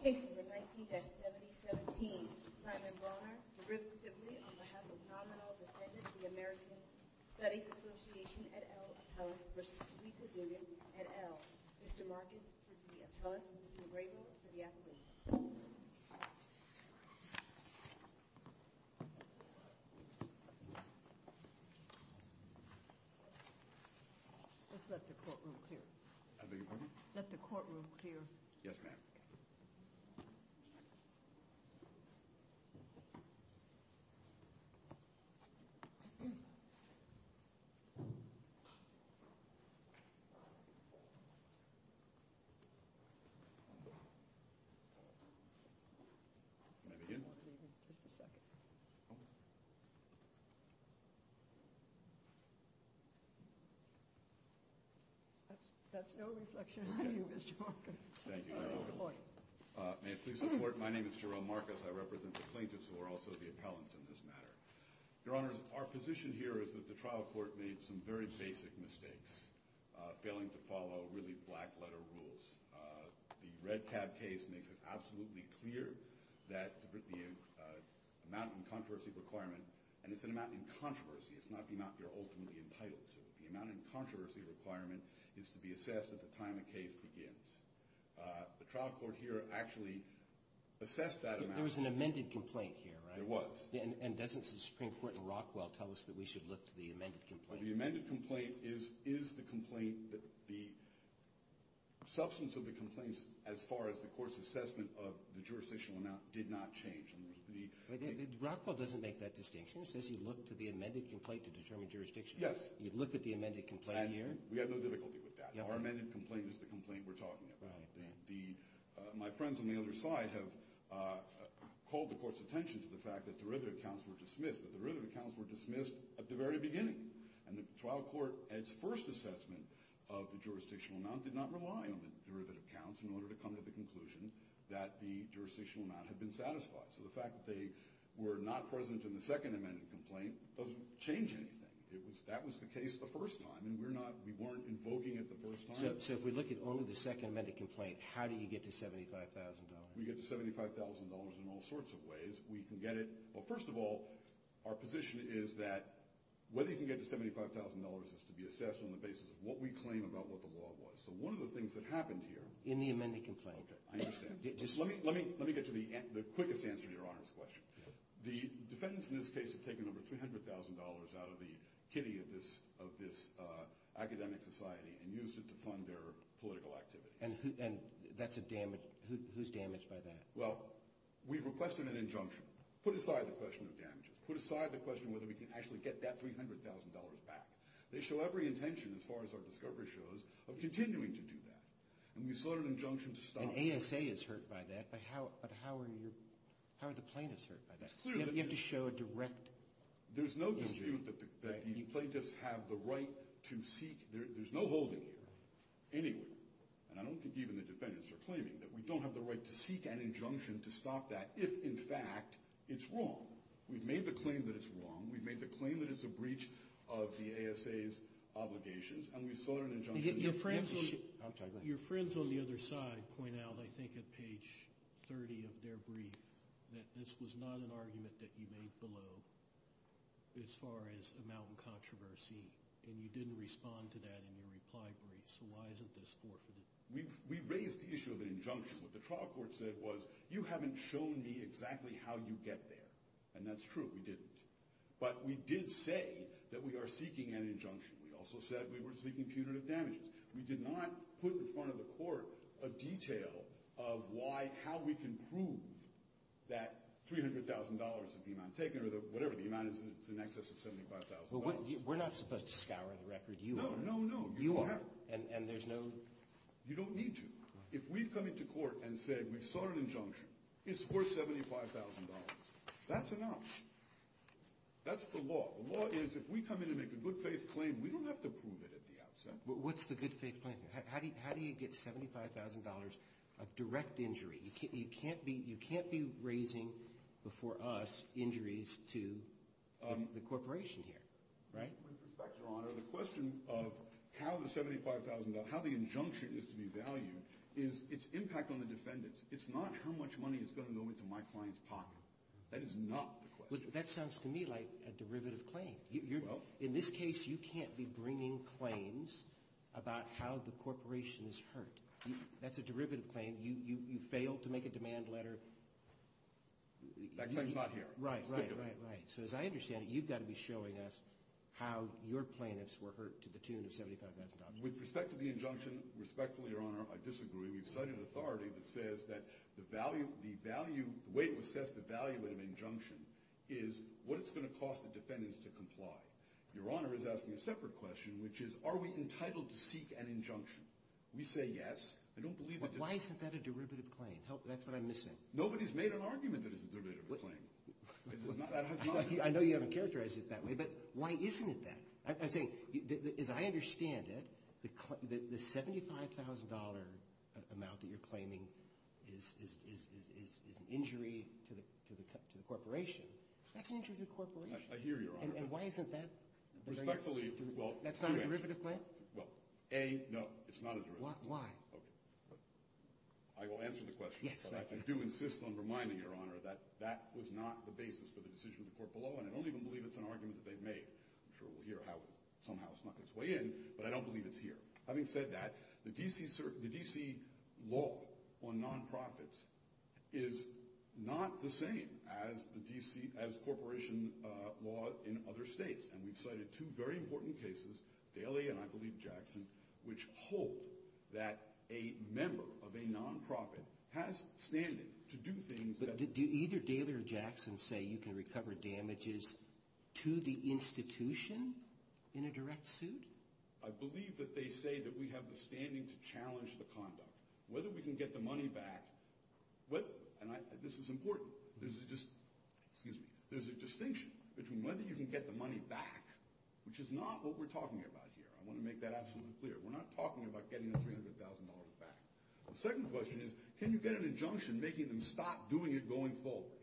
Case number 19-7017. Simon Bronner, derivatively, on behalf of nominal defendant, the American Studies Association, et al., appellant v. Lisa Duggan, et al. Mr. Marcus, for the appellants, and Mr. Grego, for the applicants. Let's let the courtroom clear. I beg your pardon? Let the courtroom clear. Yes, ma'am. May I begin? Just a second. That's no reflection on you, Mr. Marcus. Thank you, Your Honor. Point. May it please the Court, my name is Jerome Marcus. I represent the plaintiffs who are also the appellants in this matter. Your Honor, our position here is that the trial court made some very basic mistakes, failing to follow really black-letter rules. The red tab case makes it absolutely clear that the amount in controversy requirement, and it's an amount in controversy, it's not the amount you're ultimately entitled to. The amount in controversy requirement is to be assessed at the time a case begins. The trial court here actually assessed that amount. There was an amended complaint here, right? There was. And doesn't the Supreme Court in Rockwell tell us that we should look to the amended complaint? The amended complaint is the complaint that the substance of the complaints as far as the court's assessment of the jurisdictional amount did not change. Rockwell doesn't make that distinction. It says you look to the amended complaint to determine jurisdiction. Yes. You look at the amended complaint here. We have no difficulty with that. Our amended complaint is the complaint we're talking about. Right. My friends on the other side have called the court's attention to the fact that derivative counts were dismissed, but derivative counts were dismissed at the very beginning. And the trial court, its first assessment of the jurisdictional amount did not rely on the derivative counts in order to come to the conclusion that the jurisdictional amount had been satisfied. So the fact that they were not present in the second amended complaint doesn't change anything. That was the case the first time, and we're not – we weren't invoking it the first time. So if we look at only the second amended complaint, how do you get to $75,000? We get to $75,000 in all sorts of ways. We can get it – well, first of all, our position is that whether you can get to $75,000 is to be assessed on the basis of what we claim about what the law was. So one of the things that happened here – In the amended complaint. Okay. I understand. Let me get to the quickest answer to Your Honor's question. The defendants in this case have taken over $300,000 out of the kitty of this academic society and used it to fund their political activities. And that's a damage – who's damaged by that? Well, we've requested an injunction. Put aside the question of damages. Put aside the question whether we can actually get that $300,000 back. They show every intention, as far as our discovery shows, of continuing to do that. And we sought an injunction to stop them. An ASA is hurt by that. But how are the plaintiffs hurt by that? You have to show a direct issue. There's no dispute that the plaintiffs have the right to seek – there's no holding here, anywhere. And I don't think even the defendants are claiming that we don't have the right to seek an injunction to stop that if, in fact, it's wrong. We've made the claim that it's wrong. We've made the claim that it's a breach of the ASA's obligations. And we sought an injunction. Your friends on the other side point out, I think, at page 30 of their brief, that this was not an argument that you made below as far as amount in controversy. And you didn't respond to that in your reply brief. So why isn't this forfeited? We raised the issue of an injunction. What the trial court said was, you haven't shown me exactly how you get there. And that's true. We didn't. But we did say that we are seeking an injunction. We also said we were seeking punitive damages. We did not put in front of the court a detail of why – how we can prove that $300,000 is the amount taken or whatever. The amount is in excess of $75,000. Well, we're not supposed to scour the record. You are. No, no, no. You are. And there's no – You don't need to. If we've come into court and said we sought an injunction, it's worth $75,000. That's an option. That's the law. The law is if we come in and make a good-faith claim, we don't have to prove it at the outset. What's the good-faith claim? How do you get $75,000 of direct injury? You can't be raising before us injuries to the corporation here, right? With respect, Your Honor, the question of how the $75,000 – how the injunction is to be valued is its impact on the defendants. It's not how much money is going to go into my client's pocket. That is not the question. That sounds to me like a derivative claim. In this case, you can't be bringing claims about how the corporation is hurt. That's a derivative claim. You failed to make a demand letter. That claim is not here. Right, right, right, right. So as I understand it, you've got to be showing us how your plaintiffs were hurt to the tune of $75,000. With respect to the injunction, respectfully, Your Honor, I disagree. We've cited authority that says that the value – the way to assess the value of an injunction is what it's going to cost the defendants to comply. Your Honor is asking a separate question, which is are we entitled to seek an injunction? We say yes. I don't believe that – Why isn't that a derivative claim? That's what I'm missing. Nobody's made an argument that it's a derivative claim. I know you haven't characterized it that way, but why isn't it that? I'm saying, as I understand it, the $75,000 amount that you're claiming is an injury to the corporation. That's an injury to the corporation. I hear you, Your Honor. And why isn't that – Respectfully – That's not a derivative claim? Well, A, no, it's not a derivative claim. Why? Okay. I will answer the question, but I do insist on reminding Your Honor that that was not the basis for the decision of the court below, and I don't even believe it's an argument that they've made. I'm sure we'll hear how it somehow snuck its way in, but I don't believe it's here. Having said that, the D.C. law on nonprofits is not the same as corporation law in other states, and we've cited two very important cases, Daly and I believe Jackson, which hold that a member of a nonprofit has standing to do things that – Do either Daly or Jackson say you can recover damages to the institution in a direct suit? I believe that they say that we have the standing to challenge the conduct. Whether we can get the money back – and this is important. There's a distinction between whether you can get the money back, which is not what we're talking about here. I want to make that absolutely clear. We're not talking about getting the $300,000 back. The second question is can you get an injunction making them stop doing it going forward?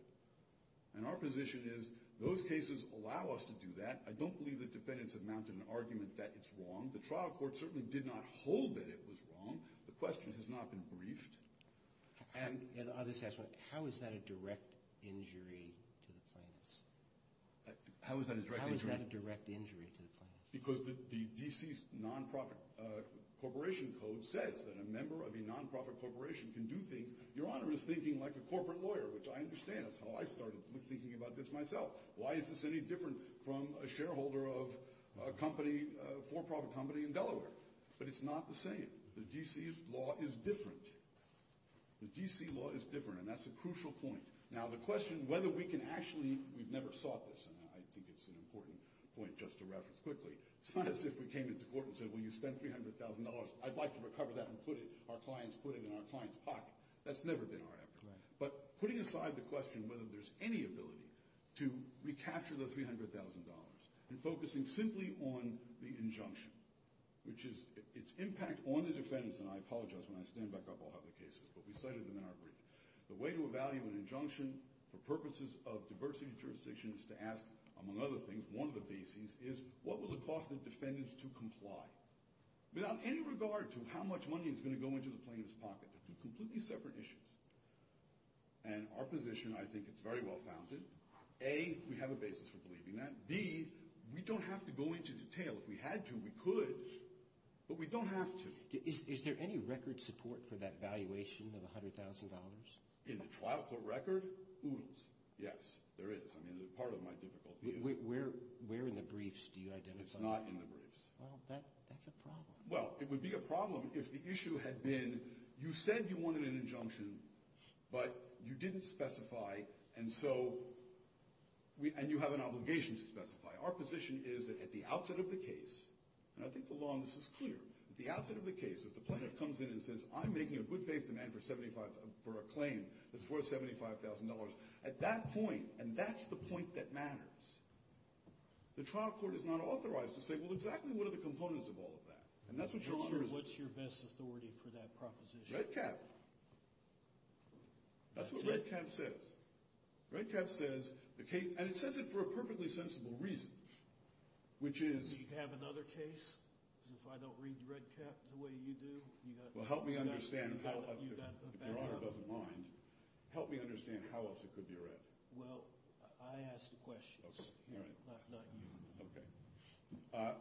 And our position is those cases allow us to do that. I don't believe the defendants have mounted an argument that it's wrong. The trial court certainly did not hold that it was wrong. The question has not been briefed. And I'll just ask, how is that a direct injury to the plaintiffs? How is that a direct injury? How is that a direct injury to the plaintiffs? Because the D.C.'s nonprofit corporation code says that a member of a nonprofit corporation can do things. Your Honor is thinking like a corporate lawyer, which I understand. That's how I started thinking about this myself. Why is this any different from a shareholder of a company, a for-profit company in Delaware? But it's not the same. The D.C.'s law is different. The D.C. law is different, and that's a crucial point. Now, the question whether we can actually – we've never sought this, and I think it's an important point just to reference quickly. It's not as if we came into court and said, well, you spent $300,000. I'd like to recover that and put it – our clients put it in our clients' pocket. That's never been our effort. But putting aside the question whether there's any ability to recapture the $300,000 and focusing simply on the injunction, which is – its impact on the defendants, and I apologize when I stand back up, I'll have the cases, but we cited them in our brief. The way to evaluate an injunction for purposes of diversity of jurisdictions to ask, among other things, one of the B.C.'s is, what will it cost the defendants to comply? Without any regard to how much money is going to go into the plaintiff's pocket. They're two completely separate issues. And our position, I think it's very well founded. A, we have a basis for believing that. B, we don't have to go into detail. If we had to, we could, but we don't have to. Is there any record support for that valuation of $100,000? In the trial court record, oodles. Yes, there is. I mean, part of my difficulty is that. Where in the briefs do you identify that? It's not in the briefs. Well, that's a problem. Well, it would be a problem if the issue had been, you said you wanted an injunction, but you didn't specify, and so – and you have an obligation to specify. Our position is that at the outset of the case, and I think the law on this is clear, at the outset of the case, if the plaintiff comes in and says, I'm making a good-faith demand for a claim that's worth $75,000, at that point, and that's the point that matters, the trial court is not authorized to say, well, exactly what are the components of all of that? And that's what your honor is – What's your best authority for that proposition? Red cap. That's what red cap says. Red cap says the case – and it says it for a perfectly sensible reason, which is – Do you have another case if I don't read red cap the way you do? Well, help me understand how – if your honor doesn't mind, help me understand how else it could be read. Well, I ask the questions, not you. Okay.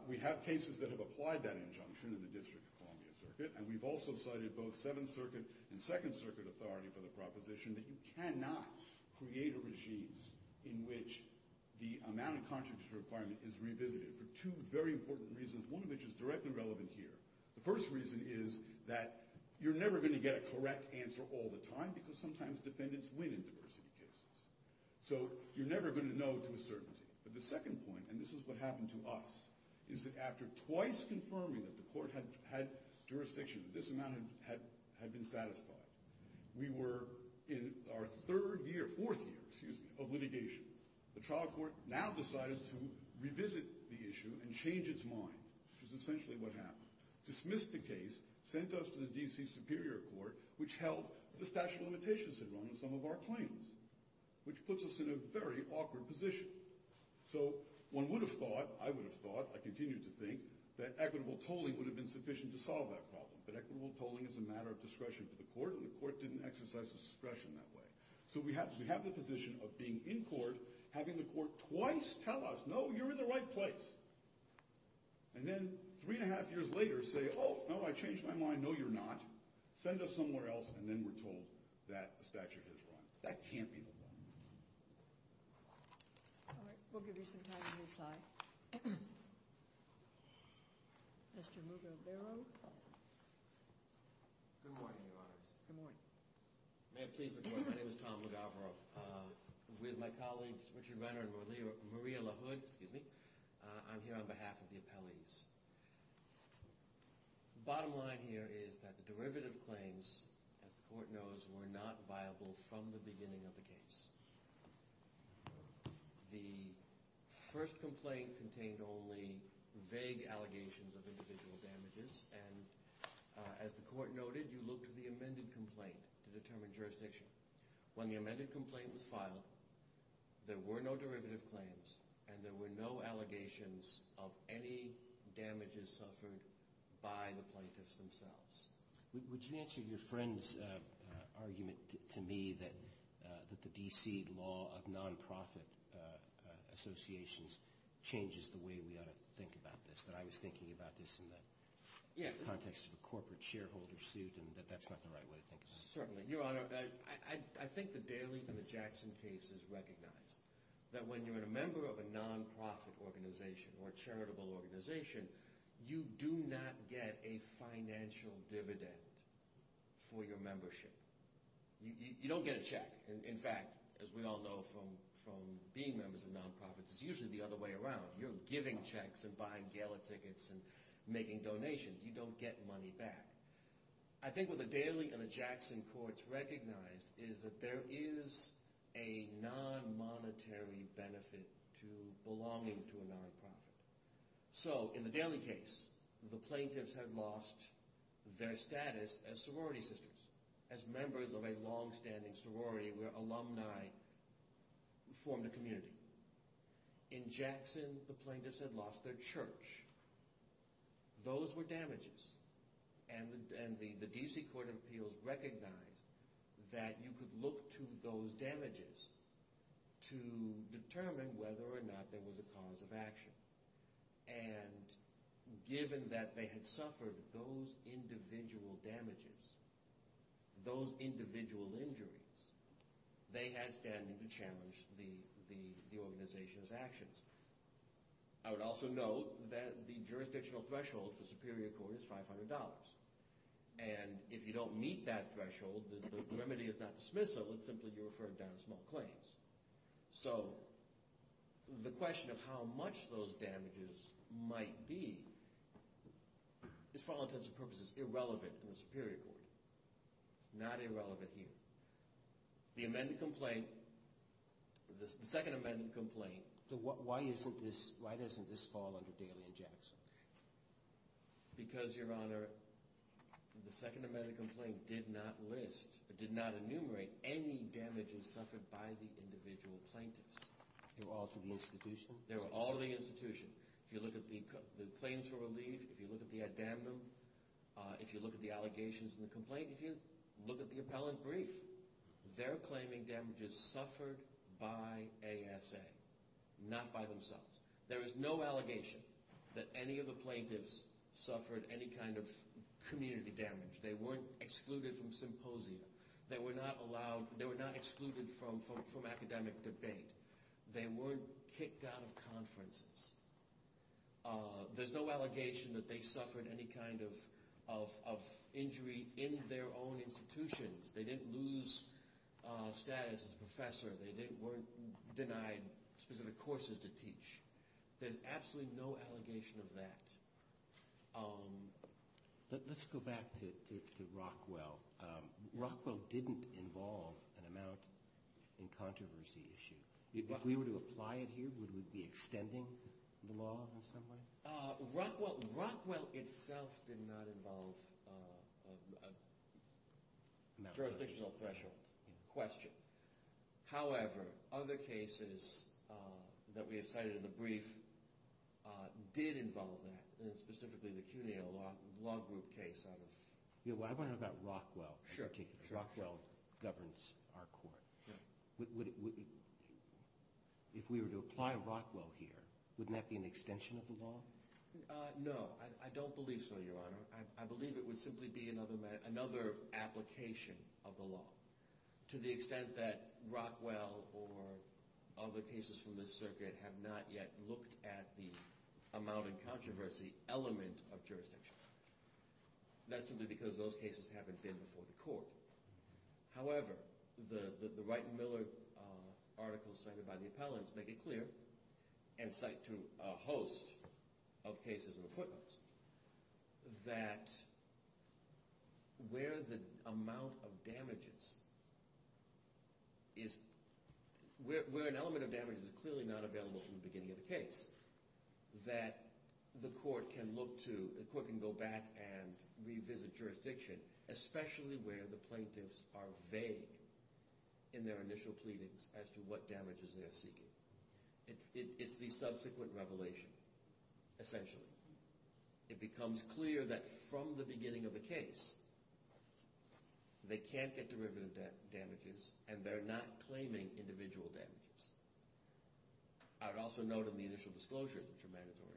We have cases that have applied that injunction in the District of Columbia Circuit, and we've also cited both Seventh Circuit and Second Circuit authority for the proposition that you cannot create a regime in which the amount of contributions requirement is revisited for two very important reasons, one of which is directly relevant here. The first reason is that you're never going to get a correct answer all the time because sometimes defendants win in diversity cases. So you're never going to know to a certainty. But the second point, and this is what happened to us, is that after twice confirming that the court had jurisdiction, this amount had been satisfied, we were in our third year – fourth year, excuse me – of litigation. The trial court now decided to revisit the issue and change its mind, which is essentially what happened. Dismissed the case, sent us to the D.C. Superior Court, which held the statute of limitations had run on some of our claims, which puts us in a very awkward position. So one would have thought, I would have thought, I continue to think, that equitable tolling would have been sufficient to solve that problem, that equitable tolling is a matter of discretion for the court, and the court didn't exercise discretion that way. So we have the position of being in court, having the court twice tell us, no, you're in the right place, and then three and a half years later say, oh, no, I changed my mind, no, you're not, send us somewhere else, and then we're told that the statute has run. That can't be the one. All right, we'll give you some time to reply. Mr. Mugabero. Good morning, Your Honors. Good morning. May it please the Court, my name is Tom Mugabero. With my colleagues Richard Renner and Maria LaHood, I'm here on behalf of the appellees. The bottom line here is that the derivative claims, as the court knows, were not viable from the beginning of the case. The first complaint contained only vague allegations of individual damages, and as the court noted, you look to the amended complaint to determine jurisdiction. When the amended complaint was filed, there were no derivative claims, and there were no allegations of any damages suffered by the plaintiffs themselves. Would you answer your friend's argument to me that the D.C. law of nonprofit associations changes the way we ought to think about this, that I was thinking about this in the context of a corporate shareholder suit, and that that's not the right way to think about it? Certainly. Your Honor, I think the Daley and the Jackson case is recognized, that when you're a member of a nonprofit organization or a charitable organization, you do not get a financial dividend for your membership. You don't get a check. In fact, as we all know from being members of nonprofits, it's usually the other way around. You're giving checks and buying gala tickets and making donations. You don't get money back. I think what the Daley and the Jackson courts recognized is that there is a nonmonetary benefit to belonging to a nonprofit. So in the Daley case, the plaintiffs had lost their status as sorority sisters, as members of a longstanding sorority where alumni formed a community. In Jackson, the plaintiffs had lost their church. Those were damages. And the D.C. Court of Appeals recognized that you could look to those damages to determine whether or not there was a cause of action. And given that they had suffered those individual damages, those individual injuries, they had standing to challenge the organization's actions. I would also note that the jurisdictional threshold for Superior Court is $500. And if you don't meet that threshold, the remedy is not dismissal. It's simply you're referred down to small claims. So the question of how much those damages might be is for all intents and purposes irrelevant in the Superior Court. It's not irrelevant here. The amended complaint, the second amended complaint. So why isn't this fall under Daley and Jackson? Because, Your Honor, the second amended complaint did not list, did not enumerate any damages suffered by the individual plaintiffs. They were all to the institution? They were all to the institution. If you look at the claims for relief, if you look at the addendum, if you look at the allegations in the complaint, if you look at the appellant brief, they're claiming damages suffered by ASA, not by themselves. There is no allegation that any of the plaintiffs suffered any kind of community damage. They weren't excluded from symposia. They were not excluded from academic debate. They weren't kicked out of conferences. There's no allegation that they suffered any kind of injury in their own institutions. They didn't lose status as a professor. They weren't denied specific courses to teach. There's absolutely no allegation of that. Let's go back to Rockwell. Rockwell didn't involve an amount in controversy issue. If we were to apply it here, would we be extending the law in some way? Rockwell itself did not involve a jurisdictional threshold question. However, other cases that we have cited in the brief did involve that, and specifically the CUNY Law Group case. I want to know about Rockwell. Sure. Rockwell governs our court. If we were to apply Rockwell here, wouldn't that be an extension of the law? No, I don't believe so, Your Honor. I believe it would simply be another application of the law to the extent that Rockwell or other cases from this circuit have not yet looked at the amount in controversy element of jurisdiction. That's simply because those cases haven't been before the court. However, the Wright and Miller articles cited by the appellants make it clear, and cite to a host of cases and appointments, that where an element of damage is clearly not available from the beginning of the case, that the court can go back and revisit jurisdiction, especially where the plaintiffs are vague in their initial pleadings as to what damages they're seeking. It's the subsequent revelation, essentially. It becomes clear that from the beginning of the case, they can't get derivative damages, and they're not claiming individual damages. I would also note in the initial disclosure, which are mandatory,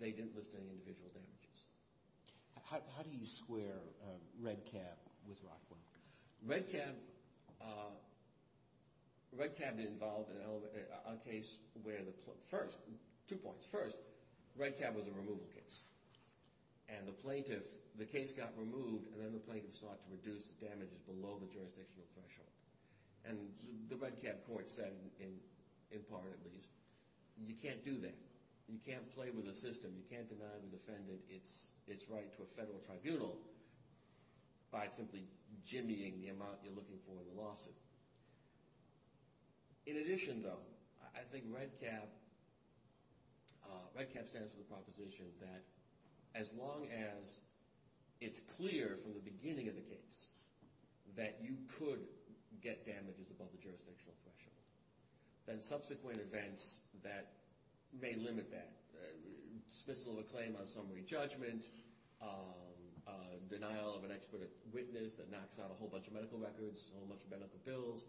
they didn't list any individual damages. How do you square Redcab with Rockwell? Redcab involved a case where the first, two points. First, Redcab was a removal case. And the plaintiff, the case got removed, and then the plaintiff sought to reduce the damages below the jurisdictional threshold. And the Redcab court said, in part at least, you can't do that. You can't play with the system. You can't deny the defendant its right to a federal tribunal by simply jimmying the amount you're looking for in the lawsuit. In addition, though, I think Redcab stands for the proposition that as long as it's clear from the beginning of the case that you could get damages above the jurisdictional threshold, then subsequent events that may limit that, dismissal of a claim on summary judgment, denial of an expert witness that knocks out a whole bunch of medical records, a whole bunch of medical bills,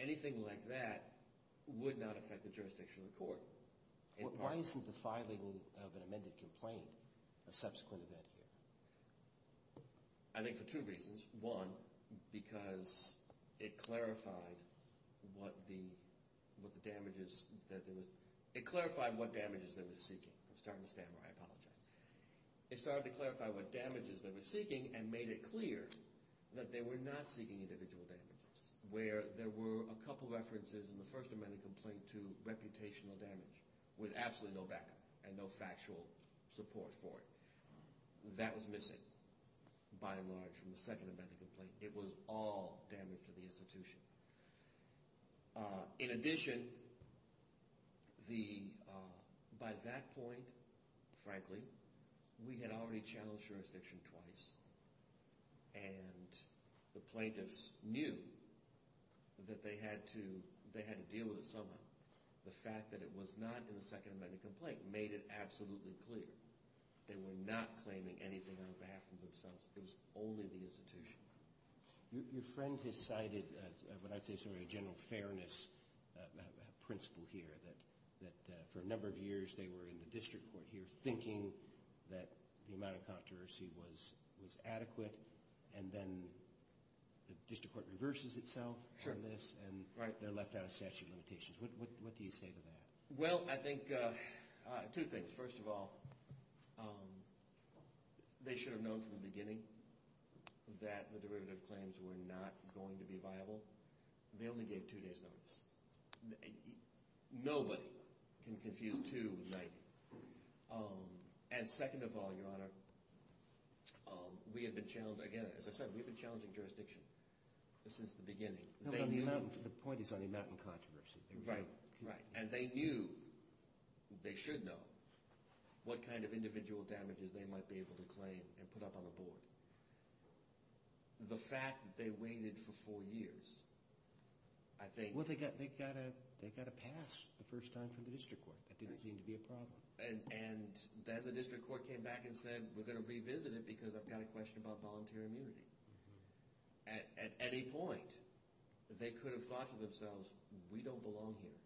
anything like that would not affect the jurisdiction of the court. Why isn't the filing of an amended complaint a subsequent event here? I think for two reasons. One, because it clarified what the damages that there was – it clarified what damages they were seeking. I'm starting to stammer. I apologize. It started to clarify what damages they were seeking and made it clear that they were not seeking individual damages, where there were a couple of references in the first amended complaint to reputational damage with absolutely no backup and no factual support for it. That was missing, by and large, from the second amended complaint. It was all damage to the institution. In addition, by that point, frankly, we had already challenged jurisdiction twice, and the plaintiffs knew that they had to deal with it somehow. The fact that it was not in the second amended complaint made it absolutely clear. They were not claiming anything on behalf of themselves. It was only the institution. Your friend has cited what I'd say is sort of a general fairness principle here, that for a number of years they were in the district court here thinking that the amount of controversy was adequate, and then the district court reverses itself from this, and they're left out of statute of limitations. What do you say to that? Well, I think two things. First of all, they should have known from the beginning that the derivative claims were not going to be viable. They only gave two days' notice. Nobody can confuse two with 90. And second of all, Your Honor, we had been challenged again. As I said, we've been challenging jurisdiction since the beginning. The point is on the amount of controversy. Right, right. And they knew, they should know, what kind of individual damages they might be able to claim and put up on the board. The fact that they waited for four years, I think— Well, they got a pass the first time from the district court. That didn't seem to be a problem. And then the district court came back and said, we're going to revisit it because I've got a question about volunteer immunity. At any point, they could have thought to themselves, we don't belong here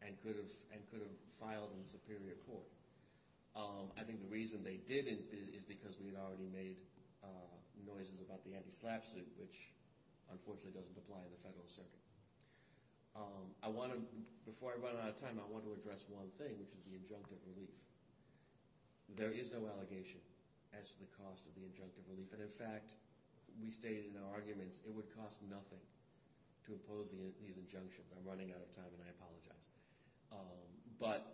and could have filed in the superior court. I think the reason they didn't is because we had already made noises about the anti-SLAPP suit, which unfortunately doesn't apply in the federal circuit. Before I run out of time, I want to address one thing, which is the injunctive relief. There is no allegation as to the cost of the injunctive relief. And in fact, we stated in our arguments, it would cost nothing to impose these injunctions. I'm running out of time, and I apologize. But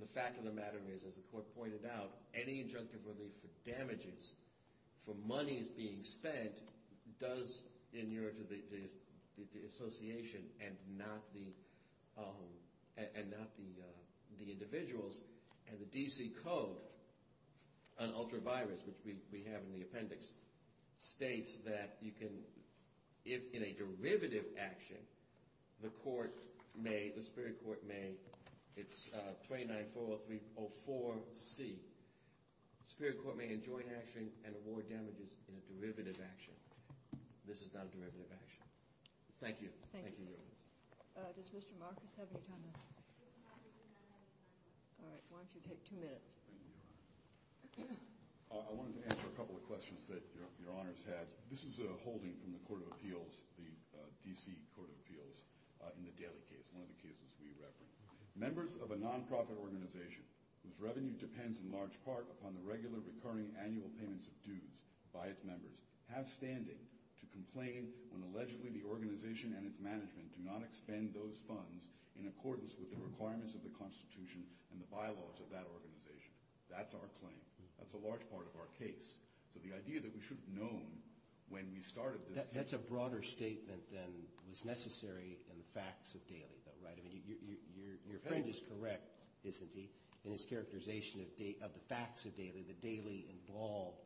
the fact of the matter is, as the court pointed out, any injunctive relief for damages, for monies being spent, does inure to the association and not the individuals. And the D.C. Code on ultra-virus, which we have in the appendix, states that you can, if in a derivative action, the court may, the superior court may, it's 29-403-04C, the superior court may enjoin action and award damages in a derivative action. This is not a derivative action. Thank you. Thank you. Does Mr. Marcus have any time? All right. Why don't you take two minutes? I wanted to answer a couple of questions that your honors had. This is a holding from the court of appeals, the D.C. Court of Appeals, in the Daly case, one of the cases we refer. Members of a nonprofit organization whose revenue depends in large part upon the regular, recurring annual payments of dues by its members have standing to complain when allegedly the organization and its management do not expend those funds in accordance with the requirements of the Constitution and the bylaws of that organization. That's our claim. That's a large part of our case. So the idea that we should have known when we started this case. That's a broader statement than was necessary in the facts of Daly, though, right? I mean, your friend is correct, isn't he, in his characterization of the facts of Daly, the Daly-involved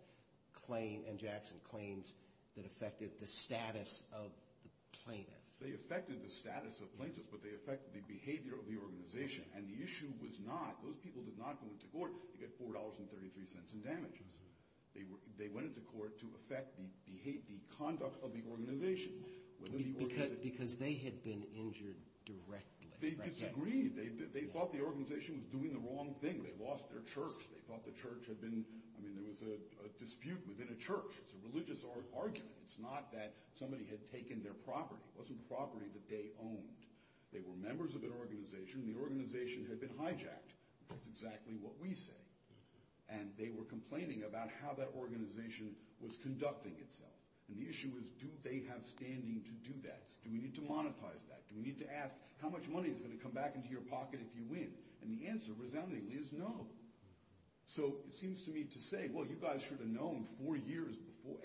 claim and Jackson claims that affected the status of the plaintiff. They affected the status of plaintiffs, but they affected the behavior of the organization. And the issue was not, those people did not go into court to get $4.33 in damages. They went into court to affect the conduct of the organization. Because they had been injured directly. They disagreed. They thought the organization was doing the wrong thing. They lost their church. They thought the church had been, I mean, there was a dispute within a church. It's a religious argument. It's not that somebody had taken their property. It wasn't property that they owned. They were members of an organization. The organization had been hijacked. That's exactly what we say. And they were complaining about how that organization was conducting itself. And the issue is, do they have standing to do that? Do we need to monetize that? Do we need to ask, how much money is going to come back into your pocket if you win? And the answer, resoundingly, is no. So it seems to me to say, well, you guys should have known four years before,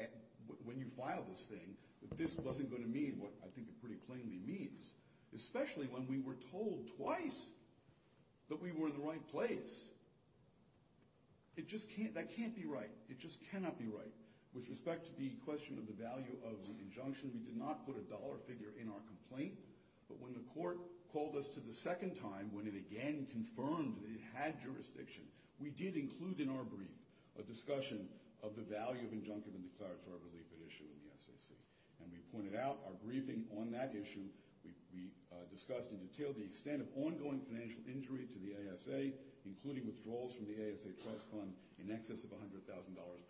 when you filed this thing, that this wasn't going to mean what I think it pretty plainly means. Especially when we were told twice that we were in the right place. It just can't, that can't be right. It just cannot be right. With respect to the question of the value of the injunction, we did not put a dollar figure in our complaint. But when the court called us to the second time, when it again confirmed that it had jurisdiction, we did include in our brief a discussion of the value of injunctive and declaratory relief at issue in the SAC. And we pointed out our briefing on that issue. We discussed in detail the extent of ongoing financial injury to the ASA, including withdrawals from the ASA trust fund in excess of $100,000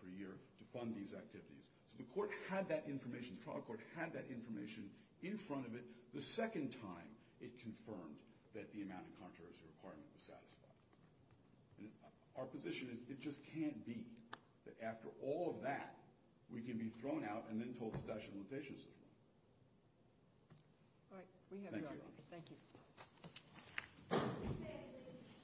per year to fund these activities. So the court had that information, the trial court had that information in front of it. The second time it confirmed that the amount in contrast to the requirement was satisfied. And our position is it just can't be that after all of that, we can be thrown out and then told the statute of limitations is wrong. All right. We have your argument. Thank you.